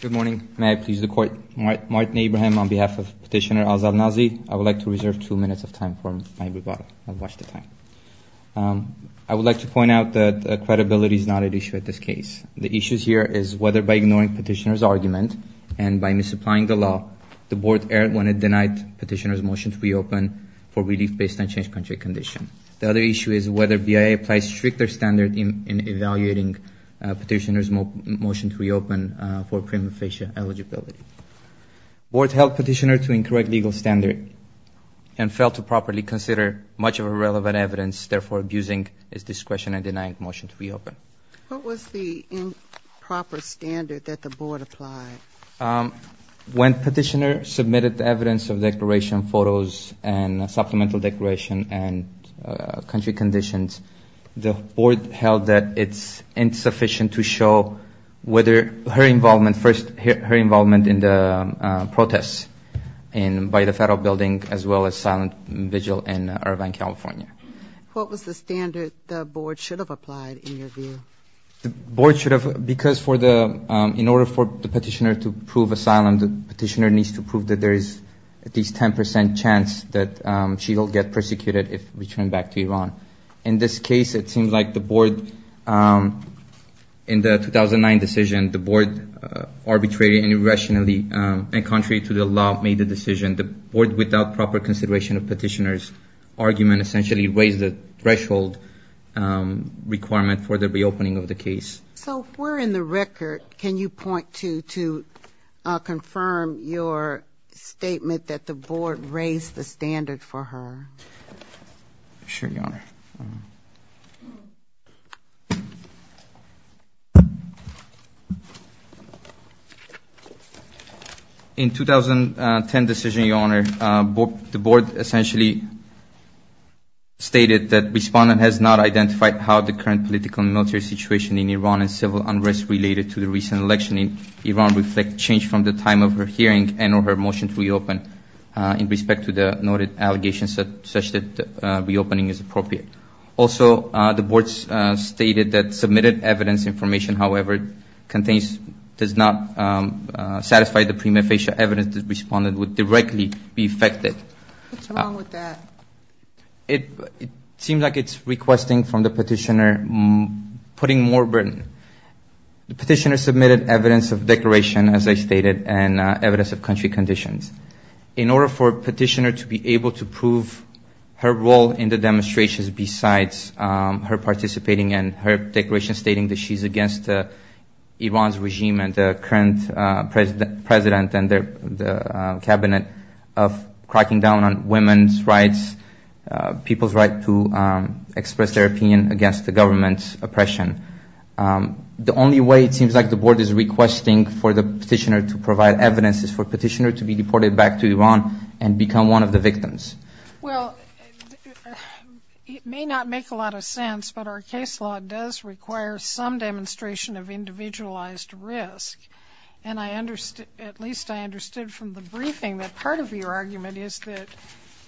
Good morning. May I please the court. Martin Abraham on behalf of Petitioner Asal Nazi, I would like to reserve two minutes of time for my rebuttal. I would like to point out that credibility is not at issue at this case. The issue here is whether by ignoring petitioner's argument and by misapplying the law, the board errantly denied petitioner's motion to reopen for relief based on change country condition. The other issue is whether BIA applies strict standard in evaluating petitioner's motion to reopen for prima facie eligibility. Board held petitioner to incorrect legal standard and failed to properly consider much of irrelevant evidence therefore abusing his discretion in denying motion to reopen. What was the improper standard that the board applied? When petitioner submitted evidence of declaration photos and supplemental declaration and country conditions, the board held that it's insufficient to show whether her involvement in the protests by the federal building as well as silent vigil in Irvine, California. What was the standard the board should have applied in your view? In order for the petitioner to prove asylum, the petitioner needs to prove that there is at least 10% chance that she will get persecuted if returned back to Iran. In this case, it seems like the board, in the 2009 decision, the board arbitrated and irrationally and contrary to the law made the decision. The board without proper consideration of petitioner's argument essentially raised the threshold requirement for the reopening of the case. So if we're in the record, can you point to confirm your statement that the board raised the standard for her? In 2010 decision, your honor, the board essentially stated that respondent has not identified how the current political and military situation in Iran and civil unrest related to the recent election in Iran reflect change from the time of her hearing and or her motion to reopen in respect to the noted allegations such that reopening is appropriate. Also the board stated that submitted evidence information, however, contains, does not satisfy the prima facie evidence the respondent would directly be affected. What's wrong with that? It seems like it's requesting from the petitioner putting more burden. The petitioner submitted evidence of declaration, as I stated, and evidence of country conditions. In order for petitioner to be able to prove her role in the demonstrations besides her participating and her declaration stating that she's against Iran's regime and the current president and the cabinet of cracking down on women's rights, people's right to express their opinion against the government's oppression. The only way it seems like the board is requesting for the petitioner to provide evidence is for petitioner to be deported back to Iran and become one of the victims. Well, it may not make a lot of sense, but our case law does require some demonstration of individualized risk, and I understood, at least I understood from the briefing that part of your argument is that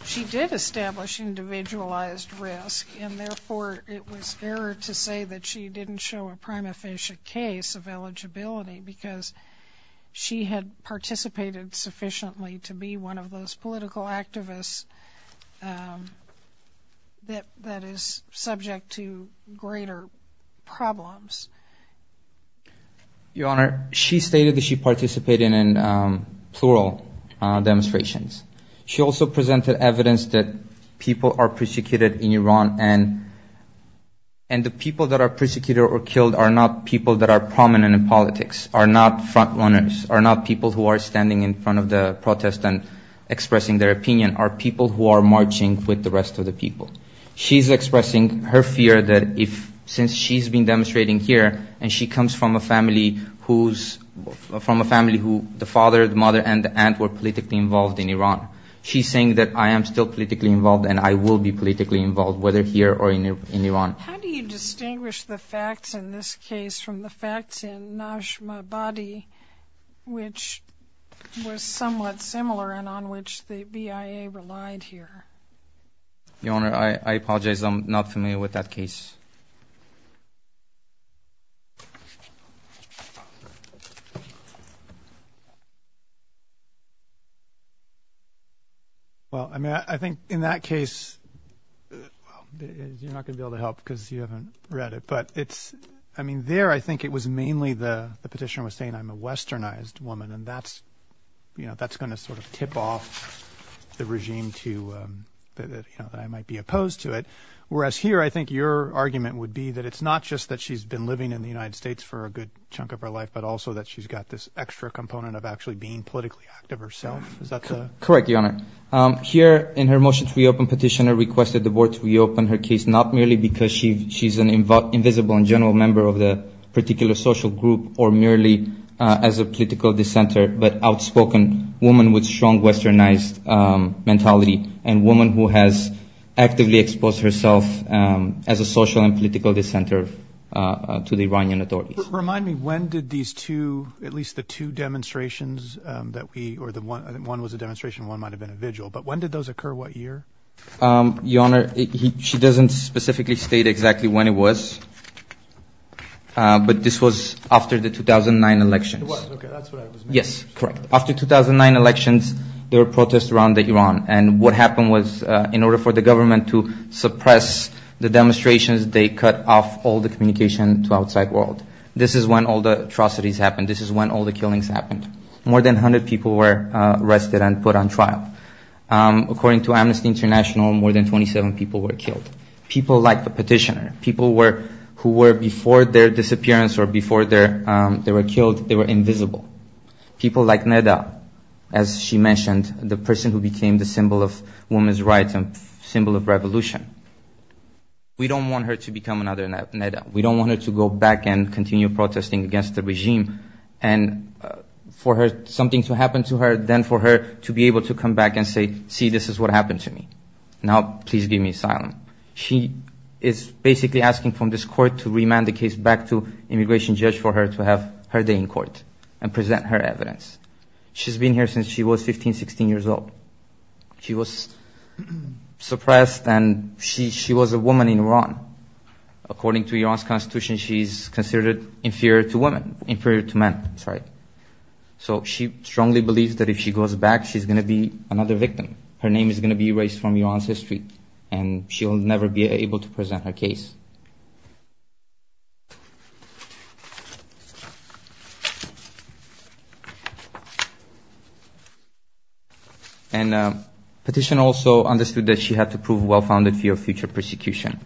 she did establish individualized risk, and therefore it was error to say that she didn't show a prima facie case of eligibility because she had participated sufficiently to be one of those political activists that is subject to greater problems. Your Honor, she stated that she participated in plural demonstrations. She also presented evidence that people are persecuted in Iran, and the people that are persecuted or killed are not people that are prominent in politics, are not front runners, are not people who are standing in front of the protest and expressing their opinion, are people who are marching with the rest of the people. She's expressing her fear that if, since she's been demonstrating here and she comes from a family who's, from a family who the father, the mother, and the aunt were politically involved in Iran. She's saying that I am still politically involved and I will be politically involved, whether here or in Iran. How do you distinguish the facts in this case from the facts in Najm-e-Badi, which was somewhat similar and on which the BIA relied here? Your Honor, I apologize. I'm not familiar with that case. Well I mean I think in that case, you're not going to be able to help because you haven't read it, but it's, I mean there I think it was mainly the petitioner was saying I'm a sort of tip off the regime to, you know, that I might be opposed to it. Whereas here I think your argument would be that it's not just that she's been living in the United States for a good chunk of her life, but also that she's got this extra component of actually being politically active herself. Is that the? Correct, Your Honor. Here in her motion to reopen, petitioner requested the board to reopen her case, not merely because she's an invisible and general member of the particular social group, or merely as a political dissenter, but outspoken woman with strong westernized mentality and woman who has actively exposed herself as a social and political dissenter to the Iranian authorities. Remind me, when did these two, at least the two demonstrations that we, or the one was a demonstration and one might have been a vigil, but when did those occur? What year? Your Honor, she doesn't specifically state exactly when it was, but this was after the 2009 elections. It was, okay, that's what I was making. Yes, correct. After 2009 elections, there were protests around Iran, and what happened was in order for the government to suppress the demonstrations, they cut off all the communication to outside world. This is when all the atrocities happened. This is when all the killings happened. More than 100 people were arrested and put on trial. According to Amnesty International, more than 27 people were killed. People like the petitioner, people who were before their disappearance or before they were killed, they were invisible. People like Neda, as she mentioned, the person who became the symbol of women's rights and symbol of revolution. We don't want her to become another Neda. We don't want her to go back and continue for something to happen to her, then for her to be able to come back and say, see, this is what happened to me. Now, please give me asylum. She is basically asking from this court to remand the case back to immigration judge for her to have her day in court and present her evidence. She's been here since she was 15, 16 years old. She was suppressed and she was a woman in Iran. According to Iran's constitution, she's considered inferior to men. She strongly believes that if she goes back, she's going to be another victim. Her name is going to be erased from Iran's history and she'll never be able to present her case. Petition also understood that she had to prove well-founded fear of future persecution.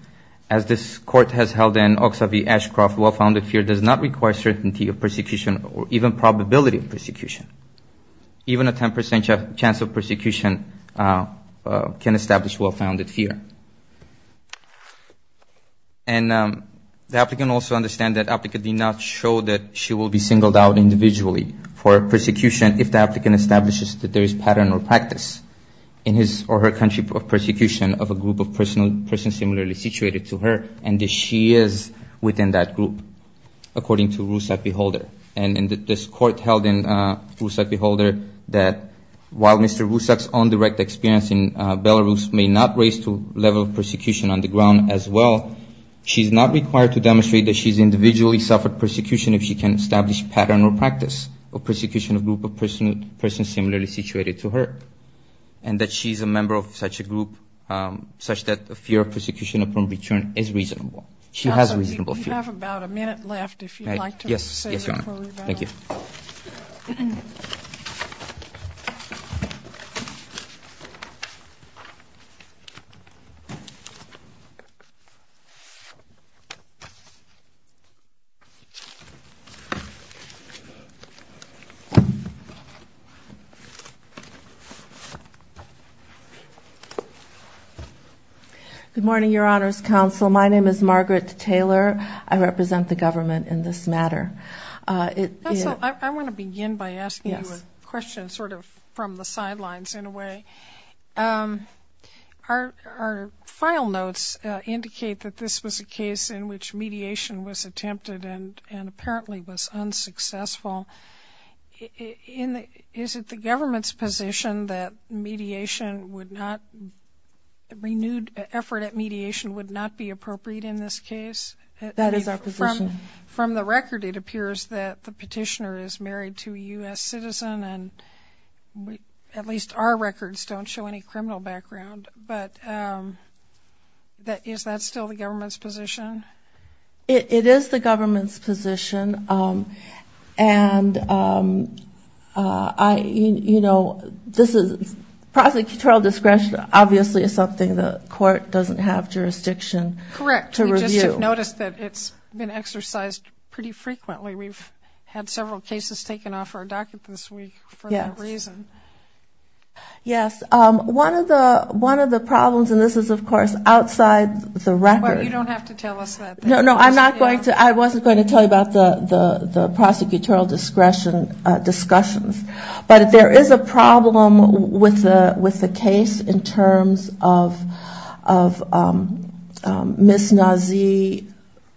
As this court has held in Oxavi-Ashcroft, well-founded fear does not require certainty of persecution or even probability of persecution. Even a 10% chance of persecution can establish well-founded fear. The applicant also understands that the applicant did not show that she will be singled out individually for persecution if the applicant establishes that there is a pattern or practice in his or her country of persecution of a group of persons similarly situated to her and that she is within that group, according to Rusak-Beholder. This court held in Rusak-Beholder that while Mr. Rusak's own direct experience in Belarus may not raise to a level of persecution on the ground as well, she's not required to demonstrate that she's individually suffered persecution if she can establish a pattern or practice of persecution similar to her and that she's a member of such a group such that the fear of persecution upon return is reasonable. She has reasonable fear. Good morning, Your Honor's Counsel. My name is Margaret Taylor. I represent the government in this matter. Counsel, I want to begin by asking you a question sort of from the sidelines in a way. Our file notes indicate that this was a case in which mediation was attempted and apparently was the government's position that mediation would not, renewed effort at mediation would not be appropriate in this case. That is our position. From the record, it appears that the petitioner is married to a U.S. citizen and at least our records don't show any criminal background, but is that still the government's position? It is the government's position and I, you know, this is prosecutorial discretion obviously is something the court doesn't have jurisdiction to review. Correct. We just have noticed that it's been exercised pretty frequently. We've had several cases taken off our docket this week for that reason. Yes. One of the problems, and this is of course outside the record. You don't have to tell us that. No, no, I'm not going to, I wasn't going to tell you about the prosecutorial discretion discussions, but there is a problem with the case in terms of Ms. Nazee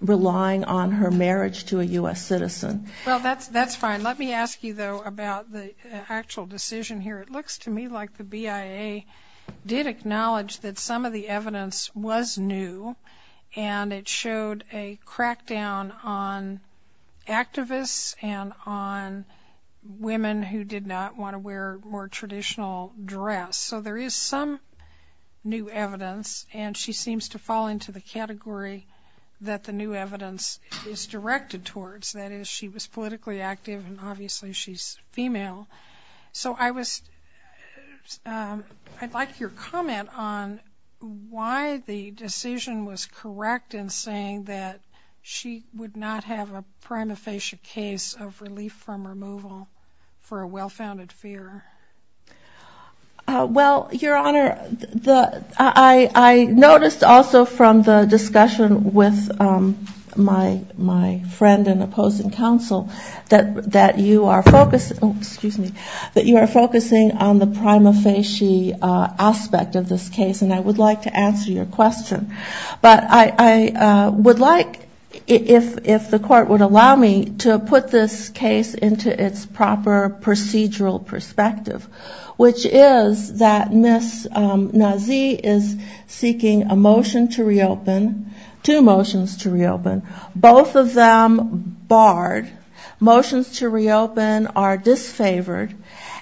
relying on her marriage to a U.S. citizen. Well, that's fine. Let me ask you though about the actual decision here. It looks to me like the BIA did acknowledge that some of the evidence was new and it showed a crackdown on activists and on women who did not want to wear more traditional dress. So there is some new evidence and she seems to fall into the category that the new evidence is directed towards. That is, I'd like your comment on why the decision was correct in saying that she would not have a prima facie case of relief from removal for a well-founded fear. Well Your Honor, I noticed also from the discussion with my friend and opposing counsel that you are focusing on the prima facie aspect of this case and I would like to answer your question. But I would like, if the court would allow me, to put this case into its proper procedural perspective, which is that Ms. Nazee is seeking a motion to reopen, two motions to reopen, both of them barred. Motions to reopen are disfavored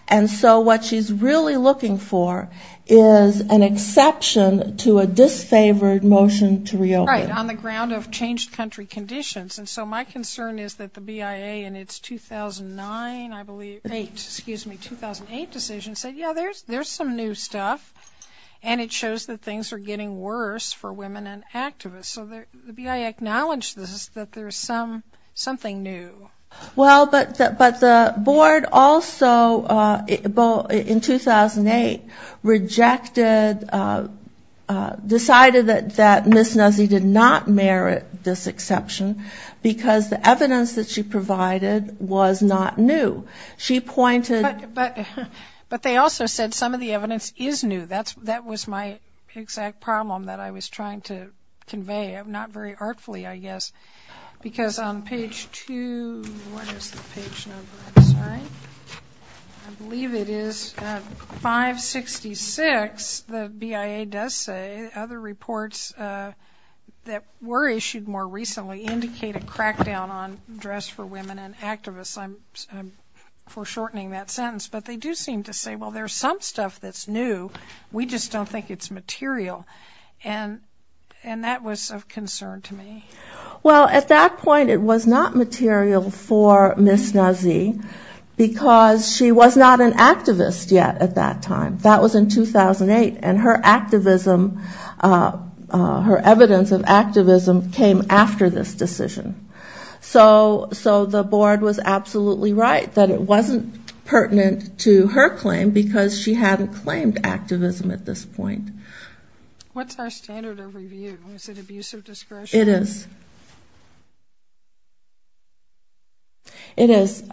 and so what she's really looking for is an exception to a disfavored motion to reopen. Right, on the ground of changed country conditions. And so my concern is that the BIA in its 2009, I believe, 2008 decision said, yeah, there's some new stuff and it shows that things are getting worse for women and activists. So the BIA acknowledged this, that there's something new. Well, but the board also in 2008 rejected, decided that Ms. Nazee did not merit this exception because the evidence that she provided was not new. She pointed... But they also said some of the evidence is new. That was my exact problem that I was trying to convey, not very artfully, I guess. Because on page two, what is the page number? I'm sorry. I believe it is 566, the BIA does say, other reports that were issued more recently indicate a crackdown on dress for women and activists. I'm foreshortening that sentence. But they do seem to say, well, there's some stuff that's new. We just don't think it's material. And that was of concern to me. Well, at that point it was not material for Ms. Nazee because she was not an activist yet at that time. That was in 2008 and her activism, her evidence of activism came after this decision. So the board was absolutely right that it wasn't pertinent to her claim because she hadn't claimed activism at this point. What's our standard of review? Is it abuse of discretion? It is. Is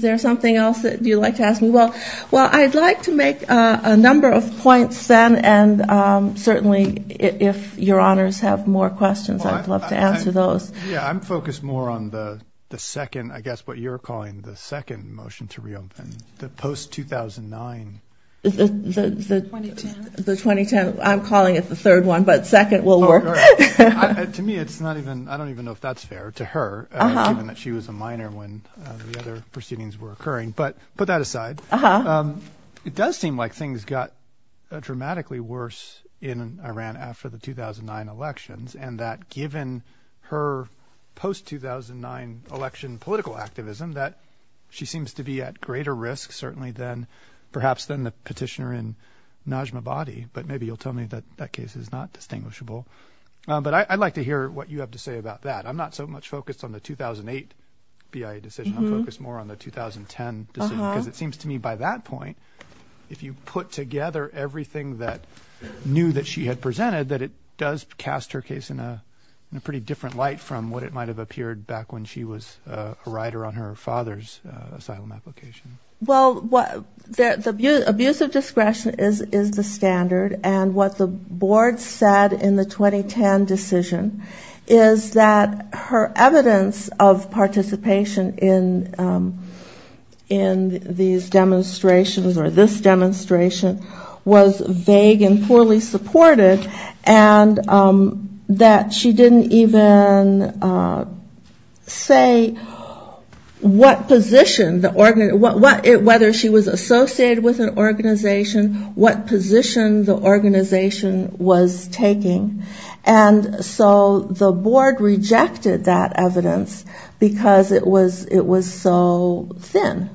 there something else that you'd like to ask me? Well, I'd like to make a number of points then. And certainly if your honors have more questions, I'd love to answer those. Yeah, I'm focused more on the second, I guess, what you're calling the second motion to reopen, the post 2009, the 2010. I'm calling it the third one, but second will work. To me, it's not even, I don't even know if that's fair to her, given that she was a minor when the other proceedings were occurring. But put that aside. It does seem like things got dramatically worse in Iran after the 2009 elections and that given her post 2009 election political activism that she seems to be at greater risk certainly than perhaps than the petitioner in Najmabadi. But maybe you'll tell me that that case is not distinguishable. But I'd like to hear what you have to say about that. I'm not so much focused on the 2008 BIA decision. I'm focused more on the 2010 decision because it seems to me by that point, if you put together everything that knew that she had presented, that it does cast her case in a pretty different light from what it might have appeared back when she was a writer on her father's asylum application. Well, the abuse of discretion is the standard. And what the board said in the 2010 decision is that her evidence of participation in these demonstrations was that she was a minor. And that this demonstration was vague and poorly supported. And that she didn't even say what position, whether she was associated with an organization, what position the organization was taking. And so the board rejected that evidence because it was so thin.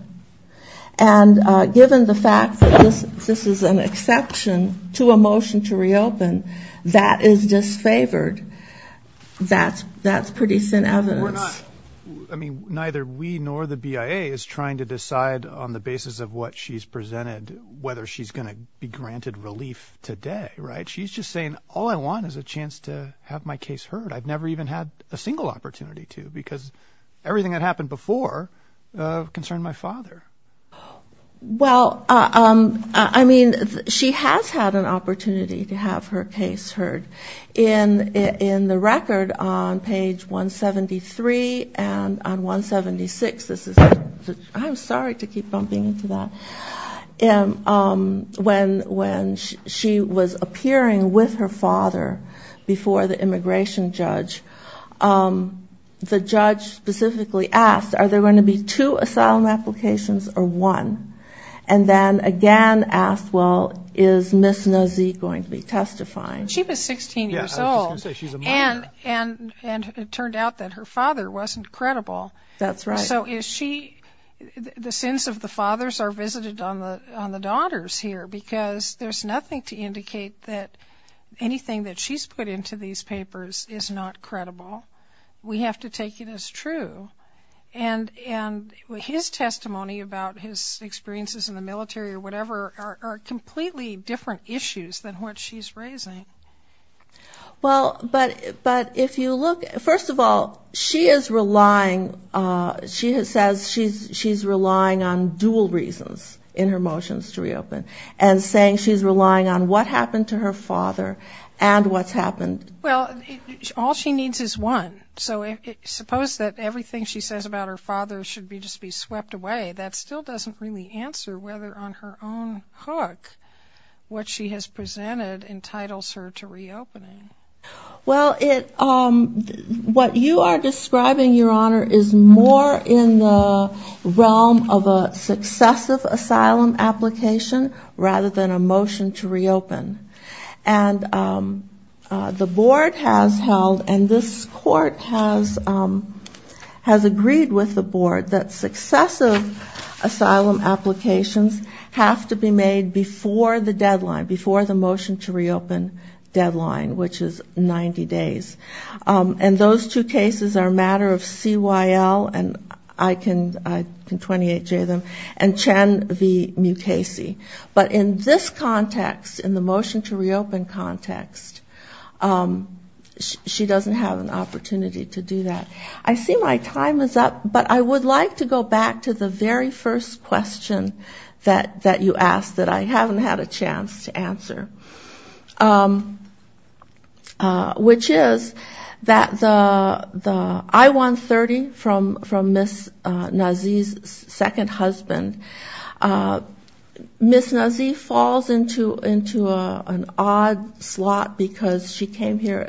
And given the fact that this is an exception to a motion to reopen, that is disfavored. That's pretty thin evidence. We're not, I mean, neither we nor the BIA is trying to decide on the basis of what she's presented whether she's going to be granted relief today, right? She's just saying, all I want is a chance to have my case heard. I've never even had a single opportunity to because everything that happened before concerned my father. Well, I mean, she has had an opportunity to have her case heard. In the record on page 173 and on 176, this is, I'm sorry to keep bumping into that. When she was appearing with her father before the immigration judge, the judge specifically asked, are there going to be two asylum applications or one? And then again asked, well, is Ms. Nozick going to be testifying? She was 16 years old and it turned out that her father wasn't credible. So is she, the sins of the fathers are visited on the daughters here because there's nothing to indicate that anything that she's put into these papers is not credible. We have to take it as true. And his testimony about his experiences in the military or whatever are completely different issues than what she's raising. Well, but if you look, first of all, she is relying, she says she's relying on dual reasons in her motions to reopen and saying she's relying on what happened to her father and what's happened. Well, all she needs is one. So suppose that everything she says about her father should be just be swept away. That still doesn't really answer whether on her own hook what she has presented entitles her to reopening. Well it, what you are describing, Your Honor, is more in the realm of a successive asylum application rather than a motion to reopen. And the Board has held, and this Court has agreed with the Board that successive asylum applications have to be made before the deadline, before the motion to reopen deadline, which is 90 days. And those two cases are a matter of CYL, and I can 28J them, and Chen v. Mukasey. But in this context, in the motion to reopen context, she doesn't have an opportunity to do that. I see my time is up, but I would like to go back to the very first question that you asked that I haven't had a chance to answer. Which is that the I-130 from Ms. Nazee's second husband, Ms. Nazee falls into an odd slot because she came here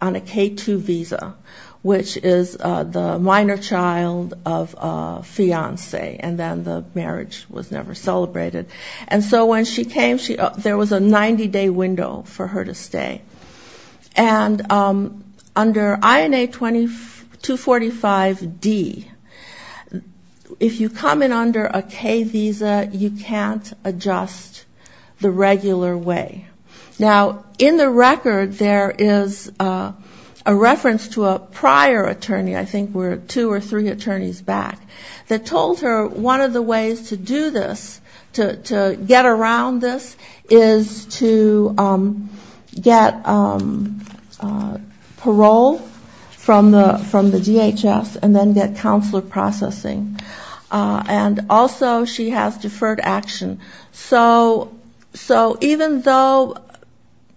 on a K-2 visa, which is the minor child of a fiancé, and then the marriage was never celebrated. And so when she came, there was a 90-day window for her to stay. And under INA 245D, if you come in under a K visa, you can't adjust the regular way. Now in the record there is a reference to a prior attorney, I think were two or three ways to do this, to get around this, is to get parole from the DHS and then get counselor processing. And also she has deferred action. So even though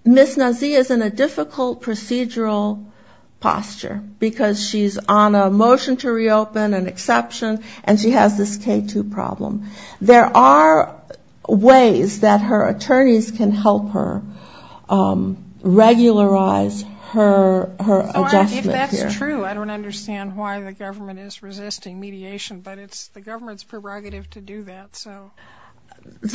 Ms. Nazee is in a difficult procedural posture, because she's on a motion to reopen, an exception, and she has this K-2 problem, there are ways that her attorneys can help her regularize her adjustment here. So if that's true, I don't understand why the government is resisting mediation, but it's the government's prerogative to do that, so.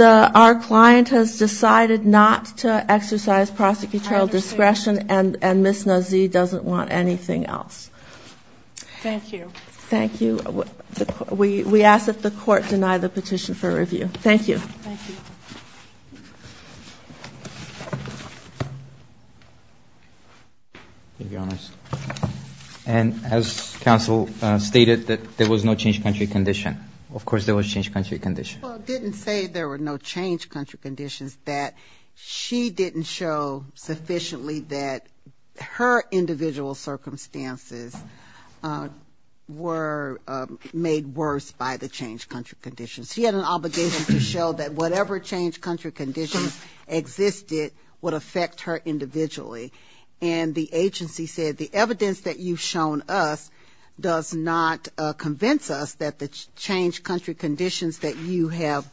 Our client has decided not to exercise prosecutorial discretion and Ms. Nazee doesn't want anything else. Thank you. Thank you. We ask that the court deny the petition for review. Thank you. And as counsel stated, that there was no change of country condition. Of course there was change of country condition. Well, it didn't say there were no change of country conditions, that she didn't show sufficiently that her individual circumstances were made worse by the change of country conditions. She had an obligation to show that whatever change of country conditions existed would affect her individually. And the agency said the evidence that you've shown us does not convince us that the change of country conditions that you have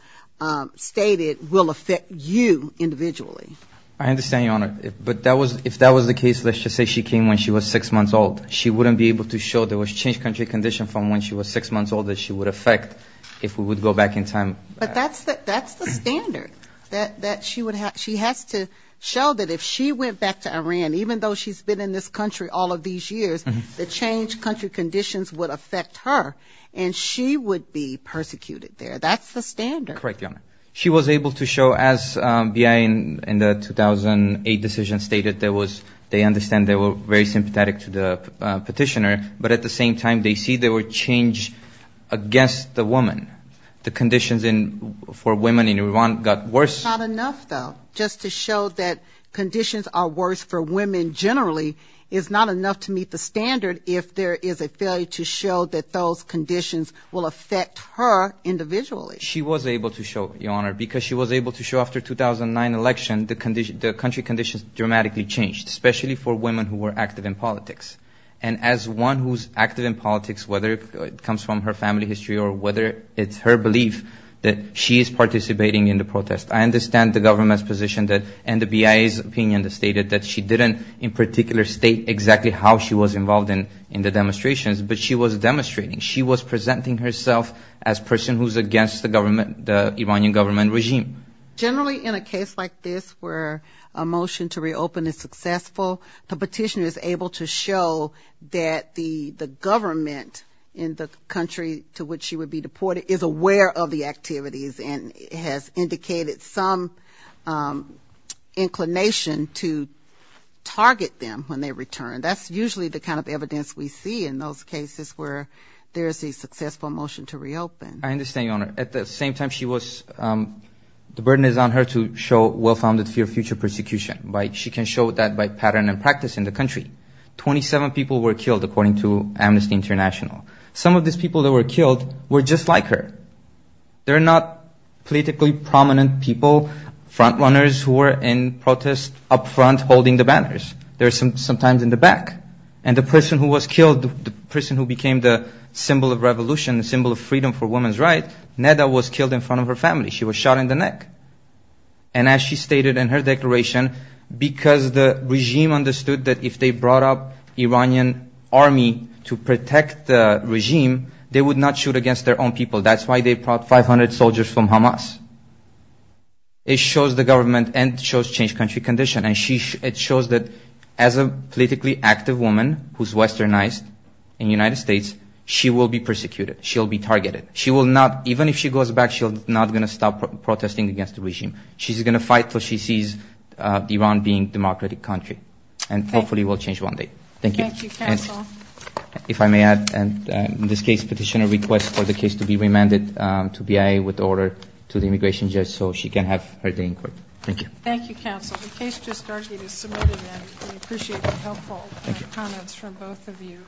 stated will affect you individually. I understand, Your Honor. But if that was the case, let's just say she came when she was six months old, she wouldn't be able to show there was change of country condition from when she was six months old that she would affect if we would go back in time. But that's the standard, that she has to show that if she went back to Iran, even though she's been in this country all of these years, the change of country conditions would affect her, and she would be persecuted there. That's the standard. She was able to show, as BI in the 2008 decision stated, they understand they were very sympathetic to the petitioner, but at the same time they see there were changes against the woman. The conditions for women in Iran got worse. Not enough, though. Just to show that conditions are worse for women generally is not enough to meet the standard if there is a failure to show that those conditions will affect her individually. She was able to show, Your Honor, because she was able to show after the 2009 election the country conditions dramatically changed, especially for women who were active in politics. And as one who's active in politics, whether it comes from her family history or whether it's her belief that she is participating in the protest, I understand the government's position and the BIA's opinion that stated that she didn't in particular state exactly how she was involved in the demonstrations, but she was demonstrating. She was presenting herself as a person who's against the Iranian government regime. Generally in a case like this where a motion to reopen is successful, the petitioner is able to show that the government in the country to which she would be deported is aware of the activities and has indicated some inclination to target them when they return. That's usually the kind of evidence we see in those cases where there is a successful motion to reopen. I understand, Your Honor. At the same time, the burden is on her to show well-founded fear of future persecution. She can show that by pattern and practice in the country. Twenty-seven people were killed according to Amnesty International. Some of these people that were killed were just like her. They're not politically prominent people, front-runners who were in protest up front holding the banners. They were sometimes in the back. And the person who was killed, the person who became the symbol of revolution, the symbol of freedom for women's rights, Neda was killed in front of her family. She was shot in the neck. And as she stated in her declaration, because the regime understood that if they brought up Iranian army to protect the regime, they would not shoot against their own people. That's why they brought 500 soldiers from Hamas. It shows the government and shows changed country condition. It shows that as a politically active woman who's westernized in the United States, she will be persecuted. She'll be targeted. She will not, even if she goes back, she's not going to stop protesting against the regime. She's going to fight until she sees Iran being a democratic country. And hopefully it will change one day. Thank you. Thank you, counsel. If I may add, in this case, petitioner requests for the case to be remanded to BIA with order to the immigration judge so she can have her day in court. Thank you. Thank you, counsel. The case just argued is submitted and we appreciate the helpful comments from both of you.